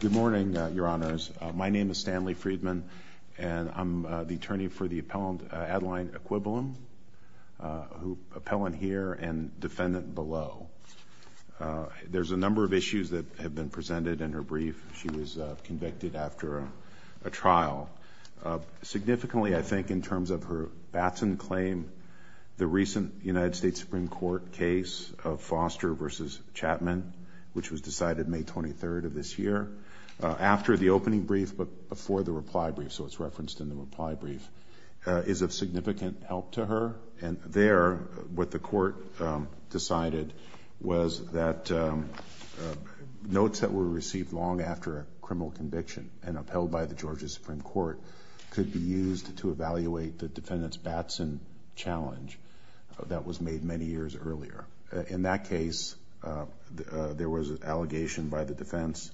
Good morning, your honors. My name is Stanley Friedman, and I'm the attorney for the appellant Adeline Ekwebelem, appellant here and defendant below. There's a number of issues that have been presented in her brief. She was convicted after a trial. Significantly, I think, in terms of her Batson claim, the recent United States Supreme Court case of Foster v. Chapman, which was decided May 23rd of this year, after the opening brief but before the reply brief, so it's referenced in the reply brief, is of significant help to her. And there, what the court decided was that notes that were received long after a criminal conviction and upheld by the Georgia Supreme Court could be used to evaluate the defendant's Batson challenge that was made many years earlier. In that case, there was an allegation by the defense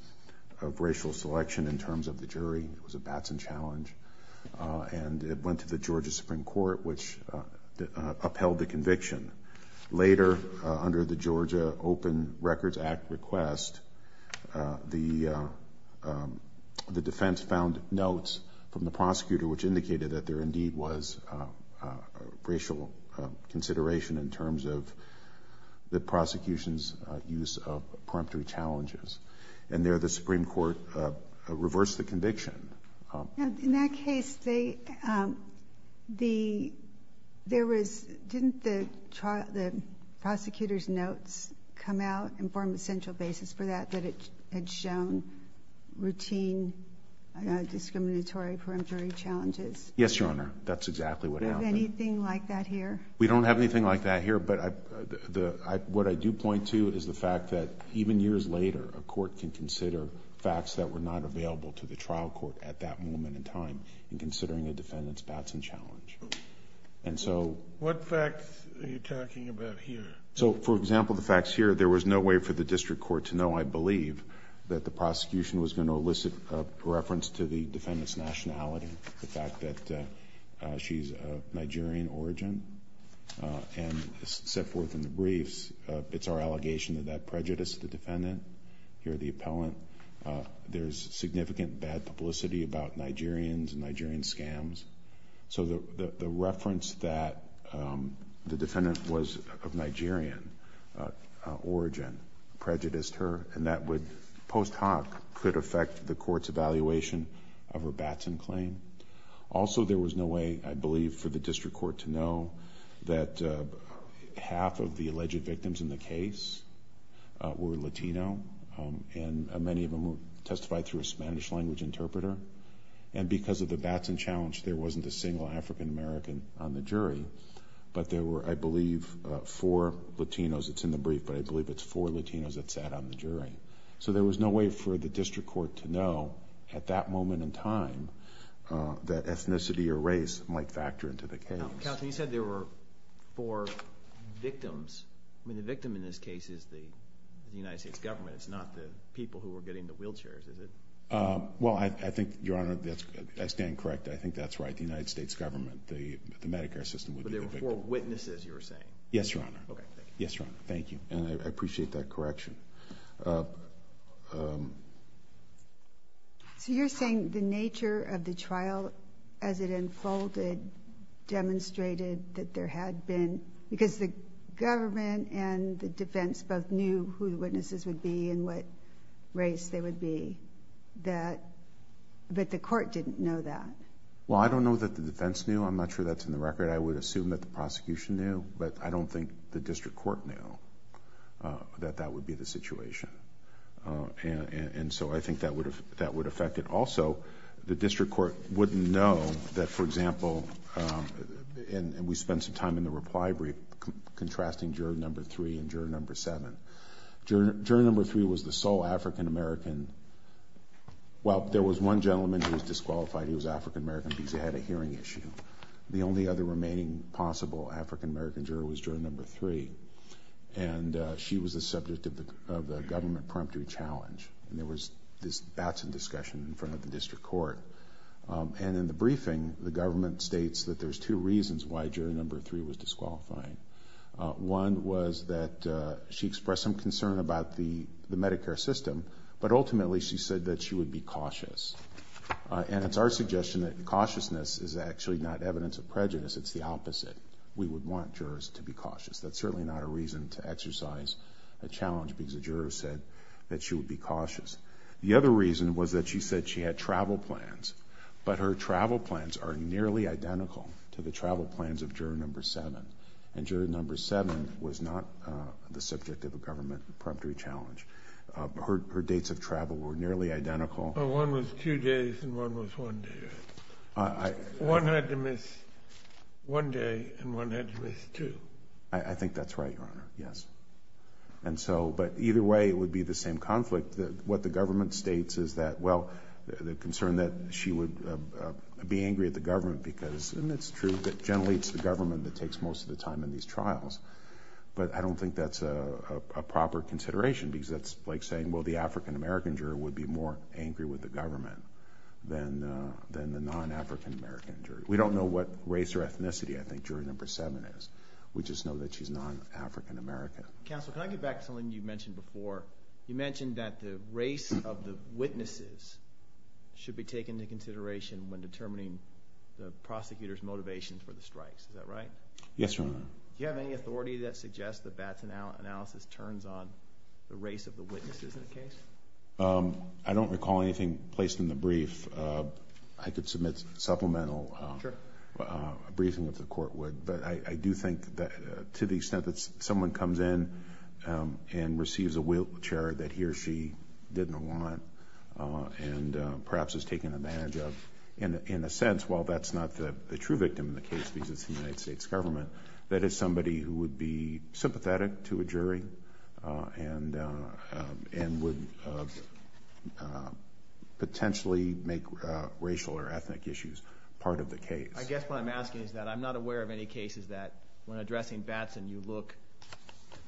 of racial selection in terms of the jury. It was a Batson challenge, and it went to the Georgia Supreme Court, which upheld the conviction. Later, under the Georgia Open Records Act request, the defense found notes from the prosecutor, which indicated that there indeed was racial consideration in terms of the prosecution's use of preemptory challenges. And there, the Supreme Court reversed the conviction. In that case, didn't the prosecutor's notes come out and form a central basis for that, that it had shown routine discriminatory preemptory challenges? Yes, Your Honor. That's exactly what happened. Do we have anything like that here? We don't have anything like that here, but what I do point to is the fact that even years later, a court can consider facts that were not available to the trial court at that moment in time in considering a defendant's Batson challenge. And so— What facts are you talking about here? So, for example, the facts here, there was no way for the district court to know, I believe, that the prosecution was going to elicit a reference to the defendant's nationality, the fact that she's of Nigerian origin, and set forth in the briefs. It's our allegation that that prejudiced the defendant. Here, the appellant, there's significant bad publicity about Nigerians and Nigerian scams. So the reference that the defendant was of Nigerian origin prejudiced her, and that would, post hoc, could affect the court's evaluation of her Batson claim. Also, there was no way, I believe, for the district court to know that half of the alleged victims in the case were Latino, and many of them testified through a Spanish-language interpreter. And because of the Batson challenge, there wasn't a single African-American on the jury, but there were, I believe, four Latinos. It's in the brief, but I believe it's four Latinos that sat on the jury. So there was no way for the district court to know, at that moment in time, that ethnicity or race might factor into the case. Now, counsel, you said there were four victims. I mean, the victim in this case is the United States government. It's not the people who were getting the wheelchairs, is it? Well, I think, Your Honor, I stand correct. I think that's right. The United States government, the Medicare system, would be the victim. But there were four witnesses, you were saying? Yes, Your Honor. Okay. Yes, Your Honor. Thank you. And I appreciate that correction. So you're saying the nature of the trial, as it unfolded, demonstrated that there had been, because the government and the defense both knew who the witnesses would be and what race they would be, but the court didn't know that? Well, I don't know that the defense knew. I'm not sure that's in the record. I would assume that the prosecution knew, but I don't think the district court knew that that would be the situation. And so I think that would affect it. Also, the district court wouldn't know that, for example, and we spent some time in the reply brief contrasting juror number three and juror number seven. Juror number three was the sole African-American. Well, there was one gentleman who was disqualified. He was African-American because he had a hearing issue. The only other remaining possible African-American juror was juror number three, and she was the subject of the government preemptory challenge, and there was this batson discussion in front of the district court. And in the briefing, the government states that there's two reasons why juror number three was disqualifying. One was that she expressed some concern about the Medicare system, but ultimately she said that she would be cautious. And it's our suggestion that cautiousness is actually not evidence of prejudice. It's the opposite. We would want jurors to be cautious. That's certainly not a reason to exercise a challenge because a juror said that she would be cautious. The other reason was that she said she had travel plans, but her travel plans are nearly identical to the travel plans of juror number seven, and juror number seven was not the subject of a government preemptory challenge. Her dates of travel were nearly identical. Well, one was two days and one was one day, right? One had to miss one day and one had to miss two. I think that's right, Your Honor, yes. And so, but either way, it would be the same conflict. What the government states is that, well, the concern that she would be angry at the government because, and it's true that generally it's the government that takes most of the time in these trials, but I don't think that's a proper consideration because that's like saying, well, the African-American juror would be more angry with the government than the non-African-American juror. We don't know what race or ethnicity I think juror number seven is. We just know that she's non-African-American. Counsel, can I get back to something you mentioned before? You mentioned that the race of the witnesses should be taken into consideration when determining the prosecutor's motivation for the strikes. Is that right? Yes, Your Honor. Do you have any authority that suggests that that analysis turns on the race of the witnesses in the case? I don't recall anything placed in the brief. I could submit supplemental briefing if the court would, but I do think that to the extent that someone comes in and receives a wheelchair that he or she didn't want and perhaps is taken advantage of, in a sense, while that's not the true victim in the case because it's the United States government, that is somebody who would be sympathetic to a jury and would potentially make racial or ethnic issues part of the case. I guess what I'm asking is that I'm not aware of any cases that when addressing Batson you look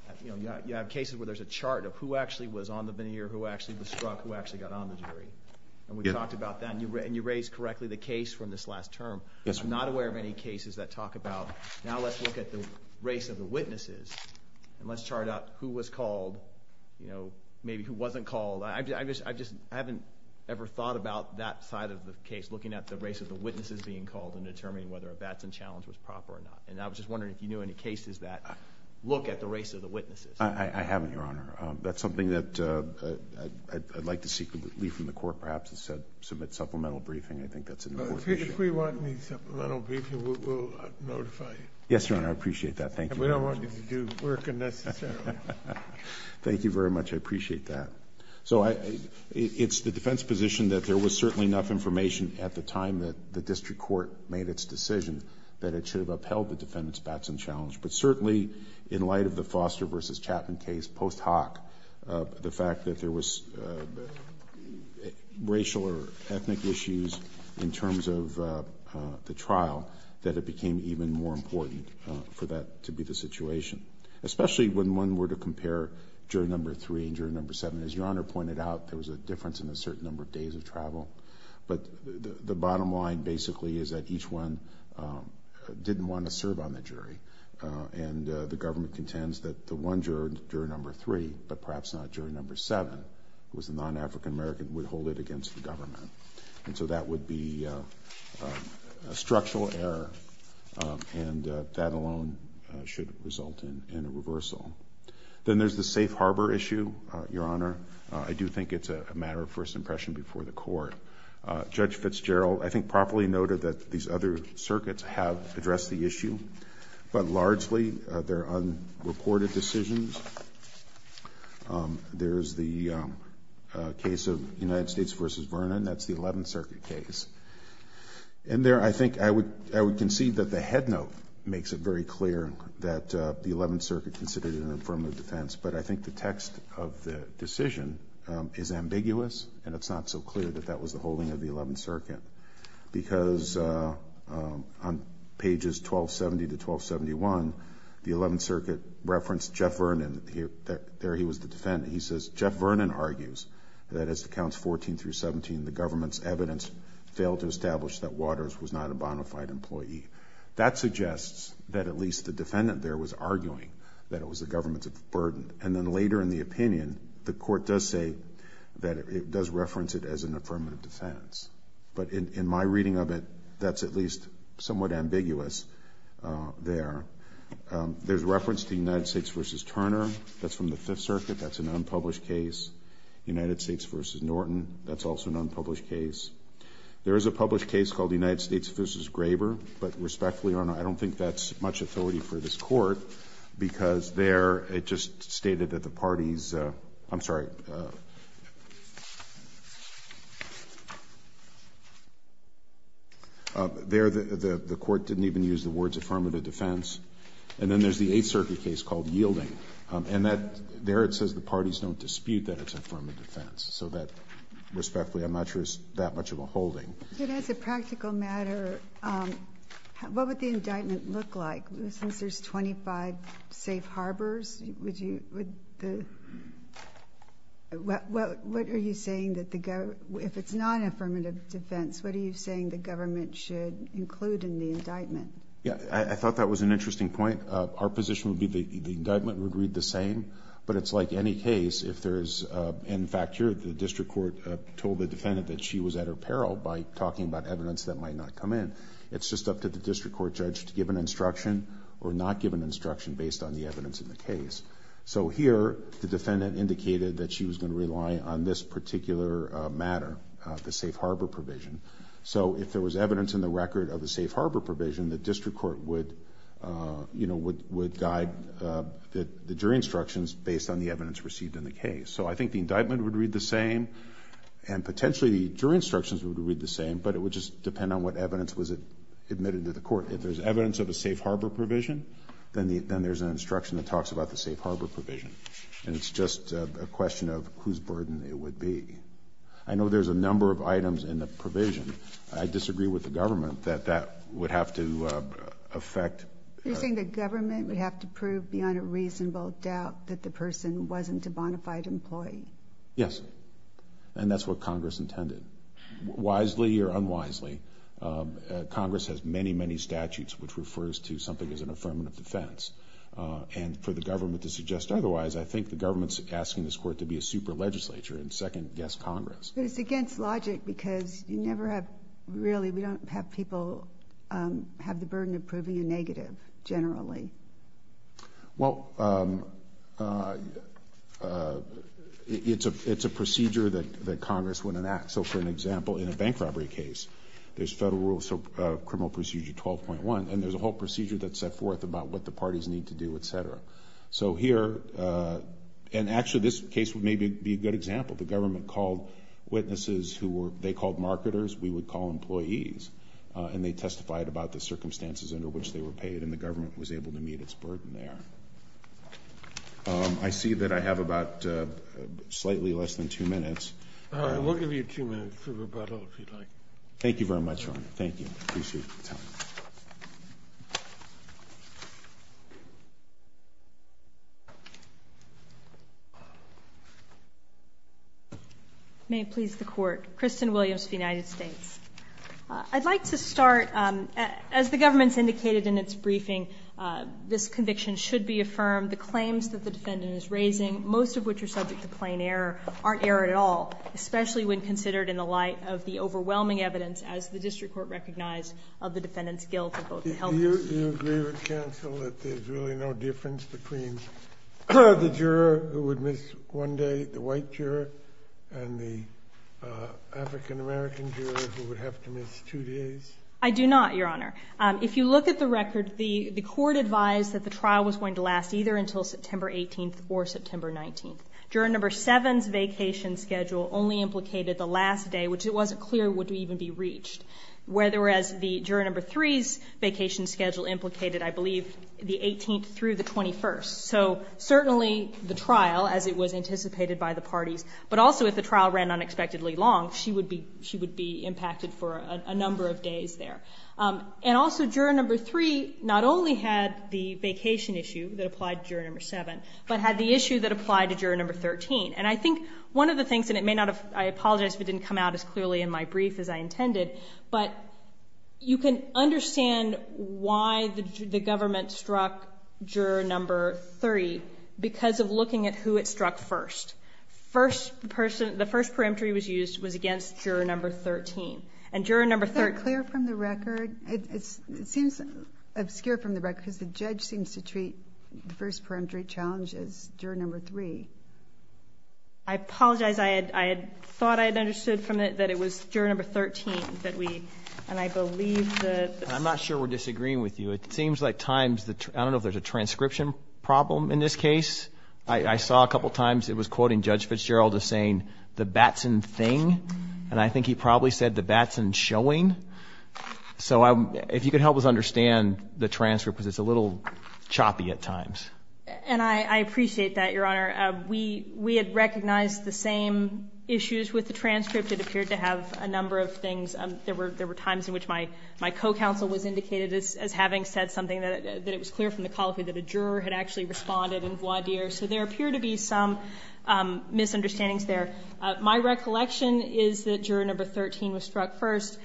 at, you know, you have cases where there's a chart of who actually was on the veneer, and we talked about that, and you raised correctly the case from this last term. I'm not aware of any cases that talk about now let's look at the race of the witnesses and let's chart out who was called, you know, maybe who wasn't called. I just haven't ever thought about that side of the case, looking at the race of the witnesses being called and determining whether a Batson challenge was proper or not. And I was just wondering if you knew any cases that look at the race of the witnesses. I haven't, Your Honor. That's something that I'd like to seek relief from the Court, perhaps, to submit supplemental briefing. I think that's an important issue. If we want any supplemental briefing, we'll notify you. Yes, Your Honor, I appreciate that. Thank you very much. And we don't want you to do work unnecessarily. Thank you very much. I appreciate that. So it's the defense's position that there was certainly enough information at the time that the district court made its decision that it should have upheld the defendant's Batson challenge. But certainly, in light of the Foster v. Chapman case post hoc, the fact that there was racial or ethnic issues in terms of the trial, that it became even more important for that to be the situation, especially when one were to compare jury number three and jury number seven. As Your Honor pointed out, there was a difference in a certain number of days of travel. But the bottom line, basically, is that each one didn't want to serve on the jury. And the government contends that the one jury, jury number three, but perhaps not jury number seven, who was a non-African American, would hold it against the government. And so that would be a structural error, and that alone should result in a reversal. Then there's the safe harbor issue, Your Honor. I do think it's a matter of first impression before the Court. Judge Fitzgerald, I think, properly noted that these other circuits have addressed the issue, but largely they're unreported decisions. There's the case of United States v. Vernon. That's the Eleventh Circuit case. In there, I think I would concede that the headnote makes it very clear that the Eleventh Circuit considered it an affirmative defense. But I think the text of the decision is ambiguous, and it's not so clear that that was the holding of the Eleventh Circuit. Because on pages 1270 to 1271, the Eleventh Circuit referenced Jeff Vernon. There he was the defendant. He says, Jeff Vernon argues that as to Counts 14 through 17, the government's evidence failed to establish that Waters was not a bona fide employee. That suggests that at least the defendant there was arguing that it was the government's burden. And then later in the opinion, the Court does say that it does reference it as an affirmative defense. But in my reading of it, that's at least somewhat ambiguous there. There's reference to United States v. Turner. That's from the Fifth Circuit. That's an unpublished case. United States v. Norton. That's also an unpublished case. There is a published case called United States v. Graber. But respectfully, Your Honor, I don't think that's much authority for this Court because there it just stated that the parties – I'm sorry. There the Court didn't even use the words affirmative defense. And then there's the Eighth Circuit case called Yielding. And that – there it says the parties don't dispute that it's affirmative defense. So that, respectfully, I'm not sure it's that much of a holding. But as a practical matter, what would the indictment look like? Since there's 25 safe harbors, would you – would the – what are you saying that the – if it's not an affirmative defense, what are you saying the government should include in the indictment? Yeah. I thought that was an interesting point. Our position would be the indictment would read the same. But it's like any case, if there's – in fact, here the district court told the evidence that might not come in. It's just up to the district court judge to give an instruction or not give an instruction based on the evidence in the case. So here the defendant indicated that she was going to rely on this particular matter, the safe harbor provision. So if there was evidence in the record of the safe harbor provision, the district court would guide the jury instructions based on the evidence received in the case. So I think the indictment would read the same. And potentially the jury instructions would read the same, but it would just depend on what evidence was admitted to the court. If there's evidence of a safe harbor provision, then there's an instruction that talks about the safe harbor provision. And it's just a question of whose burden it would be. I know there's a number of items in the provision. I disagree with the government that that would have to affect – You're saying the government would have to prove beyond a reasonable doubt that the person wasn't a bona fide employee? Yes. And that's what Congress intended. Wisely or unwisely, Congress has many, many statutes which refers to something as an affirmative defense. And for the government to suggest otherwise, I think the government's asking this court to be a super legislature and second-guess Congress. But it's against logic because you never have – really, we don't have people have the burden of proving a negative generally. Well, it's a procedure that Congress would enact. So for an example, in a bank robbery case, there's Federal Rules of Criminal Procedure 12.1, and there's a whole procedure that's set forth about what the parties need to do, et cetera. So here – and actually, this case would maybe be a good example. The government called witnesses who were – they called marketers. We would call employees. And they testified about the circumstances under which they were paid, and the government was able to meet its burden there. I see that I have about slightly less than two minutes. All right. We'll give you two minutes for rebuttal, if you'd like. Thank you very much, Ron. Thank you. I appreciate your time. May it please the Court. Kristen Williams of the United States. I'd like to start – as the government's indicated in its briefing, this conviction should be affirmed. The claims that the defendant is raising, most of which are subject to plain error, aren't errored at all, especially when considered in the light of the overwhelming evidence, as the district court recognized, of the defendant's guilt of both the helpers. Do you agree with counsel that there's really no difference between the juror who would miss one day, the white juror, and the African-American juror who would have to miss two days? I do not, Your Honor. If you look at the record, the court advised that the trial was going to last either until September 18th or September 19th. Juror number 7's vacation schedule only implicated the last day, which it wasn't clear would even be reached. Whereas the juror number 3's vacation schedule implicated, I believe, the 18th through the 21st. So certainly the trial, as it was anticipated by the parties, but also if the trial ran unexpectedly long, she would be impacted for a number of days there. And also juror number 3 not only had the vacation issue that applied to juror number 7, but had the issue that applied to juror number 13. And I think one of the things, and it may not have – I apologize if it didn't come out as clearly in my brief as I intended, but you can understand why the government struck juror number 3 because of looking at who it struck first. First person – the first perimetry was used was against juror number 13. And juror number 3 – Is that clear from the record? It seems obscure from the record because the judge seems to treat the first perimetry challenge as juror number 3. I apologize. I had thought I had understood from it that it was juror number 13 that we – and I believe that – I'm not sure we're disagreeing with you. It seems like times – I don't know if there's a transcription problem in this case. I saw a couple times it was quoting Judge Fitzgerald as saying the Batson thing, and I think he probably said the Batson showing. So if you could help us understand the transcript because it's a little choppy at times. And I appreciate that, Your Honor. We had recognized the same issues with the transcript. It appeared to have a number of things. There were times in which my co-counsel was indicated as having said something that it was clear from the colloquy that a juror had actually responded in voir dire. So there appear to be some misunderstandings there. My recollection is that juror number 13 was struck first.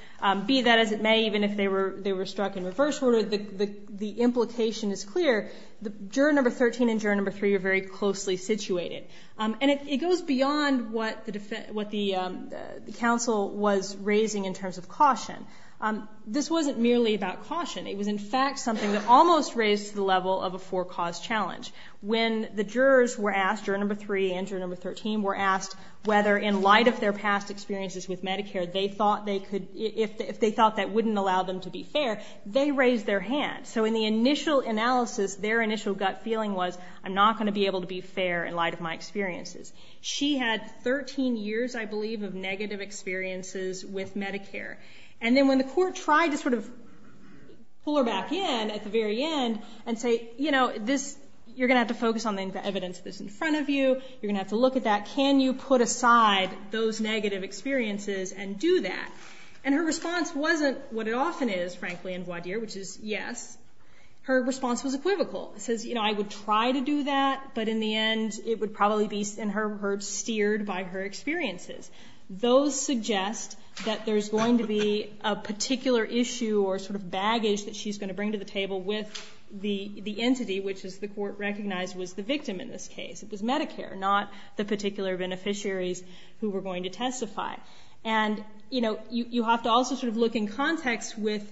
Be that as it may, even if they were struck in reverse order, the implication is clear. Juror number 13 and juror number 3 are very closely situated. And it goes beyond what the counsel was raising in terms of caution. This wasn't merely about caution. It was, in fact, something that almost raised to the level of a four-cause challenge. When the jurors were asked, juror number 3 and juror number 13 were asked whether in light of their past experiences with Medicare they thought they could – if they thought that wouldn't allow them to be fair, they raised their hand. So in the initial analysis, their initial gut feeling was I'm not going to be able to be fair in light of my experiences. She had 13 years, I believe, of negative experiences with Medicare. And then when the court tried to sort of pull her back in at the very end and say, you know, this – you're going to have to focus on the evidence that's in front of you. You're going to have to look at that. Can you put aside those negative experiences and do that? And her response wasn't what it often is, frankly, in voir dire, which is yes. Her response was equivocal. It says, you know, I would try to do that, but in the end it would probably be, in her words, steered by her experiences. Those suggest that there's going to be a particular issue or sort of baggage that she's going to bring to the table with the entity, which as the court recognized was the victim in this case. It was Medicare, not the particular beneficiaries who were going to testify. And, you know, you have to also sort of look in context with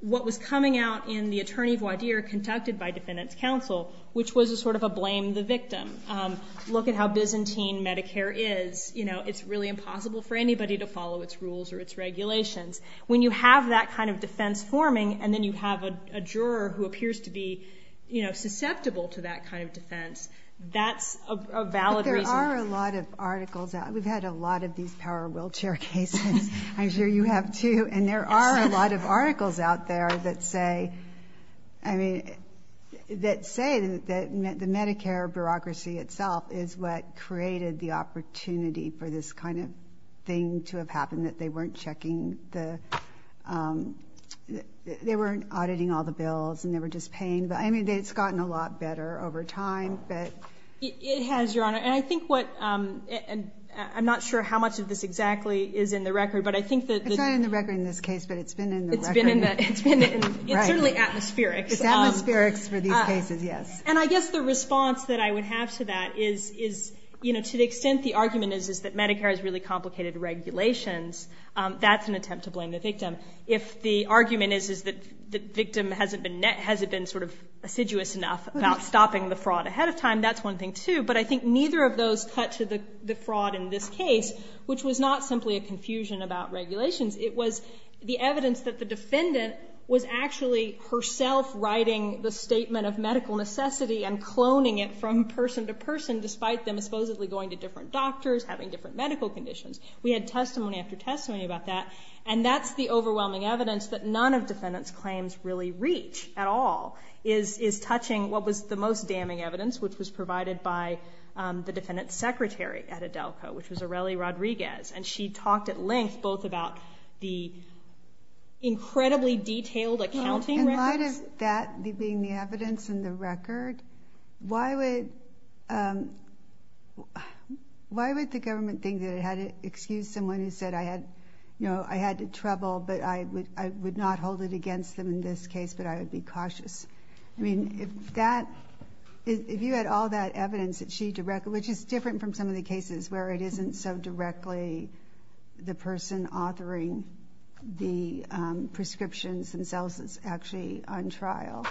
what was coming out in the attorney voir dire conducted by defendant's counsel, which was a sort of a blame the victim. Look at how Byzantine Medicare is. You know, it's really impossible for anybody to follow its rules or its regulations. When you have that kind of defense forming and then you have a juror who appears to be, you know, susceptible to that kind of defense, that's a valid reason. But there are a lot of articles. We've had a lot of these power wheelchair cases. I'm sure you have too. And there are a lot of articles out there that say, I mean, that say that the Medicare bureaucracy itself is what created the opportunity for this kind of thing to have happened, that they weren't checking the they weren't auditing all the bills and they were just paying. But, I mean, it's gotten a lot better over time. It has, Your Honor. And I think what I'm not sure how much of this exactly is in the record, but I think that... It's not in the record in this case, but it's been in the record. It's been in the... Right. It's certainly atmospherics. It's atmospherics for these cases, yes. And I guess the response that I would have to that is, you know, to the extent the argument is that Medicare has really complicated regulations, that's an attempt to blame the victim. If the argument is that the victim hasn't been sort of assiduous enough about stopping the fraud ahead of time, that's one thing, too. But I think neither of those cut to the fraud in this case, which was not simply a It was the evidence that the defendant was actually herself writing the statement of medical necessity and cloning it from person to person, despite them supposedly going to different doctors, having different medical conditions. We had testimony after testimony about that. And that's the overwhelming evidence that none of defendants' claims really reach at all, is touching what was the most damning evidence, which was provided by the defendant's secretary at Adelco, which was Arely Rodriguez. And she talked at length both about the incredibly detailed accounting records. In light of that being the evidence and the record, why would the government think that it had to excuse someone who said, you know, I had trouble, but I would not hold it against them in this case, but I would be cautious? I mean, if you had all that evidence, which is different from some of the cases where it isn't so directly the person authoring the prescriptions themselves that's actually on trial.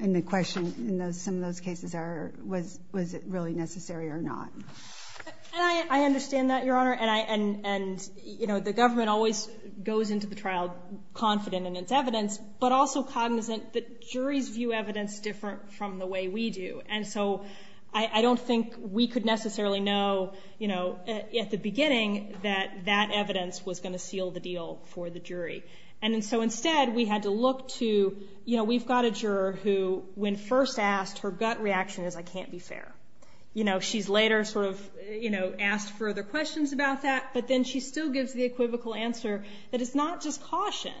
And the question in some of those cases are, was it really necessary or not? And I understand that, Your Honor. And, you know, the government always goes into the trial confident in its evidence, but also cognizant that juries view evidence different from the way we do. And so I don't think we could necessarily know, you know, at the beginning that that evidence was going to seal the deal for the jury. And so instead, we had to look to, you know, we've got a juror who, when first asked, her gut reaction is, I can't be fair. You know, she's later sort of, you know, asked further questions about that, but then she still gives the equivocal answer that it's not just caution.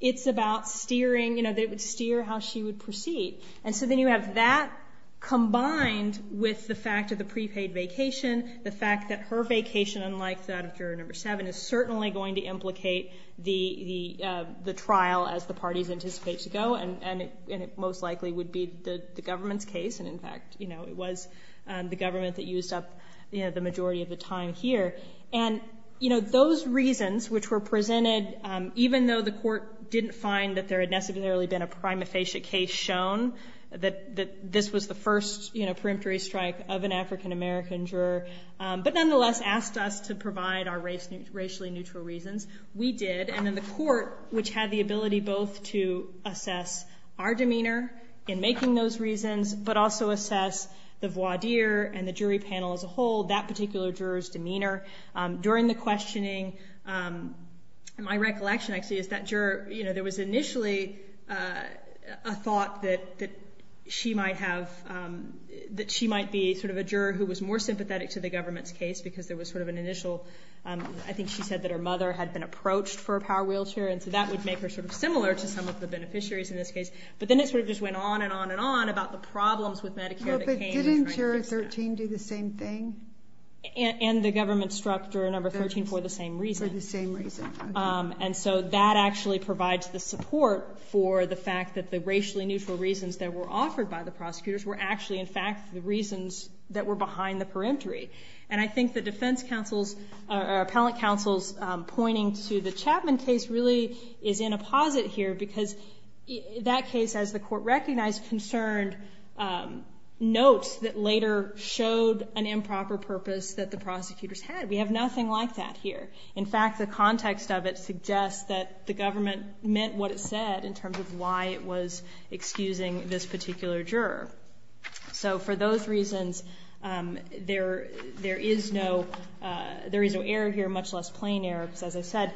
It's about steering, you know, that it would steer how she would proceed. And so then you have that combined with the fact of the prepaid vacation, the fact that her vacation, unlike that of juror number 7, is certainly going to implicate the trial as the parties anticipate to go. And it most likely would be the government's case. And, in fact, you know, it was the government that used up, you know, the majority of the time here. And, you know, those reasons which were presented, even though the Court didn't find that there had necessarily been a prima facie case shown, that this was the first, you know, preemptory strike of an African-American juror, but nonetheless asked us to provide our racially neutral reasons. We did. And then the Court, which had the ability both to assess our demeanor in making those reasons, but also assess the voir dire and the jury panel as a whole, that particular juror's demeanor. During the questioning, my recollection, actually, is that juror, you know, there was initially a thought that she might have, that she might be sort of a juror who was more sympathetic to the government's case because there was sort of an initial, I think she said that her mother had been approached for a power wheelchair, and so that would make her sort of similar to some of the beneficiaries in this case. But then it sort of just went on and on and on about the problems with Medicare that came in trying to fix that. But didn't Juror 13 do the same thing? And the government struck Juror Number 13 for the same reason. For the same reason. And so that actually provides the support for the fact that the racially neutral reasons that were offered by the prosecutors were actually, in fact, the reasons that were behind the preemptory. And I think the defense counsel's, or appellate counsel's, pointing to the Chapman case really is in a posit here because that case, as the Court recognized, concerned notes that later showed an improper purpose that the prosecutors had. We have nothing like that here. In fact, the context of it suggests that the government meant what it said in terms of why it was excusing this particular juror. So for those reasons, there is no error here, much less plain error. Because as I said,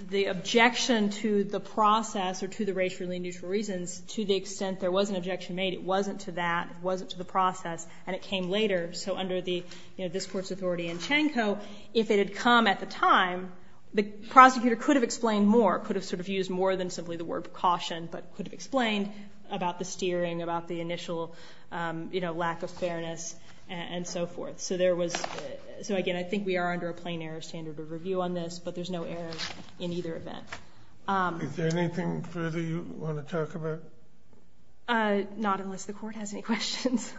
the objection to the process, or to the racially neutral reasons, to the extent there was an objection made, it wasn't to that, it wasn't to the process, and it came later. So under this Court's authority in Chanko, if it had come at the time, the prosecutor could have explained more, could have sort of used more than simply the word precaution, but could have explained about the steering, about the initial lack of fairness, and so forth. So again, I think we are under a plain error standard of review on this, but there's no error in either event. Is there anything further you want to talk about? Not unless the Court has any questions.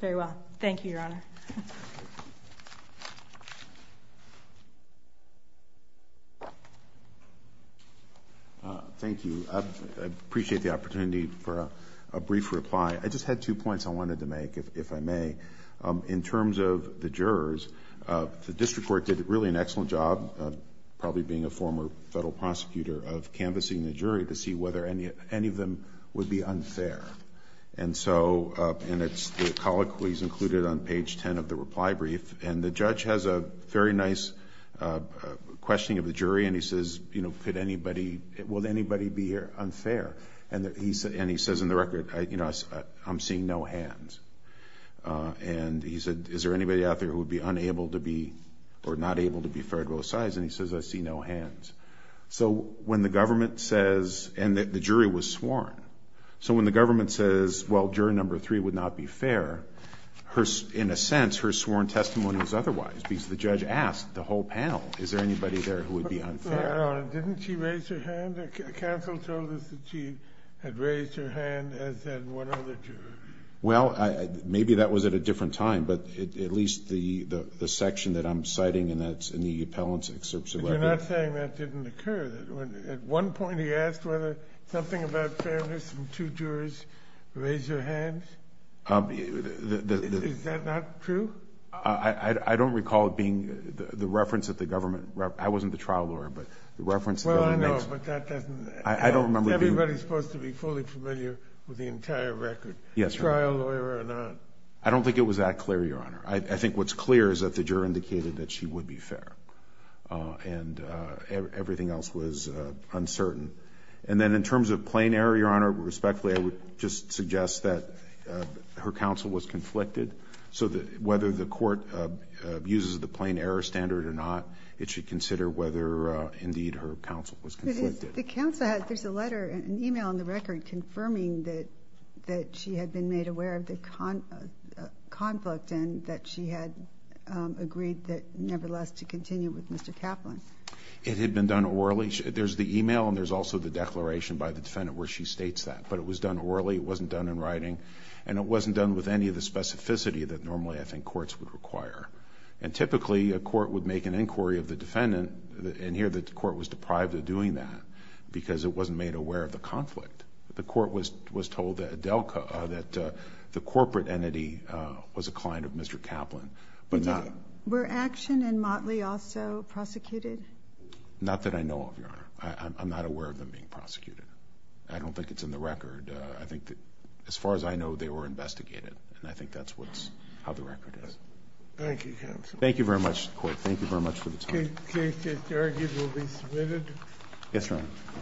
Very well. Thank you, Your Honor. Thank you. I appreciate the opportunity for a brief reply. I just had two points I wanted to make, if I may. In terms of the jurors, the district court did really an excellent job, probably being a former federal prosecutor, of canvassing the jury to see whether any of them would be unfair. And so, and it's the colloquies included on page 10 of the reply brief, and the judge has a very nice questioning of the jury, and he says, you know, could anybody, will anybody be unfair? And he says in the record, you know, I'm seeing no hands. And he said, is there anybody out there who would be unable to be, or not able to be fair to both sides? And he says, I see no hands. So when the government says, and the jury was sworn. So when the government says, well, juror number three would not be fair, in a sense, her sworn testimony was otherwise, because the judge asked the whole panel, is there anybody there who would be unfair? Your Honor, didn't she raise her hand? Counsel told us that she had raised her hand, as had one other juror. Well, maybe that was at a different time, but at least the section that I'm citing in the appellant's excerpt selected. But you're not saying that didn't occur? At one point he asked whether something about fairness and two jurors raised their hands? Is that not true? I don't recall it being the reference that the government, I wasn't the trial lawyer, but the reference that the government makes. Well, I know, but that doesn't. I don't remember being. Everybody's supposed to be fully familiar with the entire record. Yes, Your Honor. Trial lawyer or not. I don't think it was that clear, Your Honor. I think what's clear is that the juror indicated that she would be fair. And everything else was uncertain. And then in terms of plain error, Your Honor, respectfully, I would just suggest that her counsel was conflicted. So whether the court uses the plain error standard or not, it should consider whether, indeed, her counsel was conflicted. But the counsel has, there's a letter, an e-mail in the record confirming that she had been made aware of the conflict and that she had agreed that, nevertheless, to continue with Mr. Kaplan. It had been done orally. There's the e-mail and there's also the declaration by the defendant where she states that. But it was done orally. It wasn't done in writing. And it wasn't done with any of the specificity that normally I think courts would require. And typically, a court would make an inquiry of the defendant and hear that the court was deprived of doing that because it wasn't made aware of the conflict. The court was told that the corporate entity was a client of Mr. Kaplan. But not. Were Action and Motley also prosecuted? Not that I know of, Your Honor. I'm not aware of them being prosecuted. I don't think it's in the record. I think that, as far as I know, they were investigated. And I think that's what's, how the record is. Thank you, counsel. Thank you very much, court. Thank you very much for the time. The case is argued and will be submitted. Yes, Your Honor.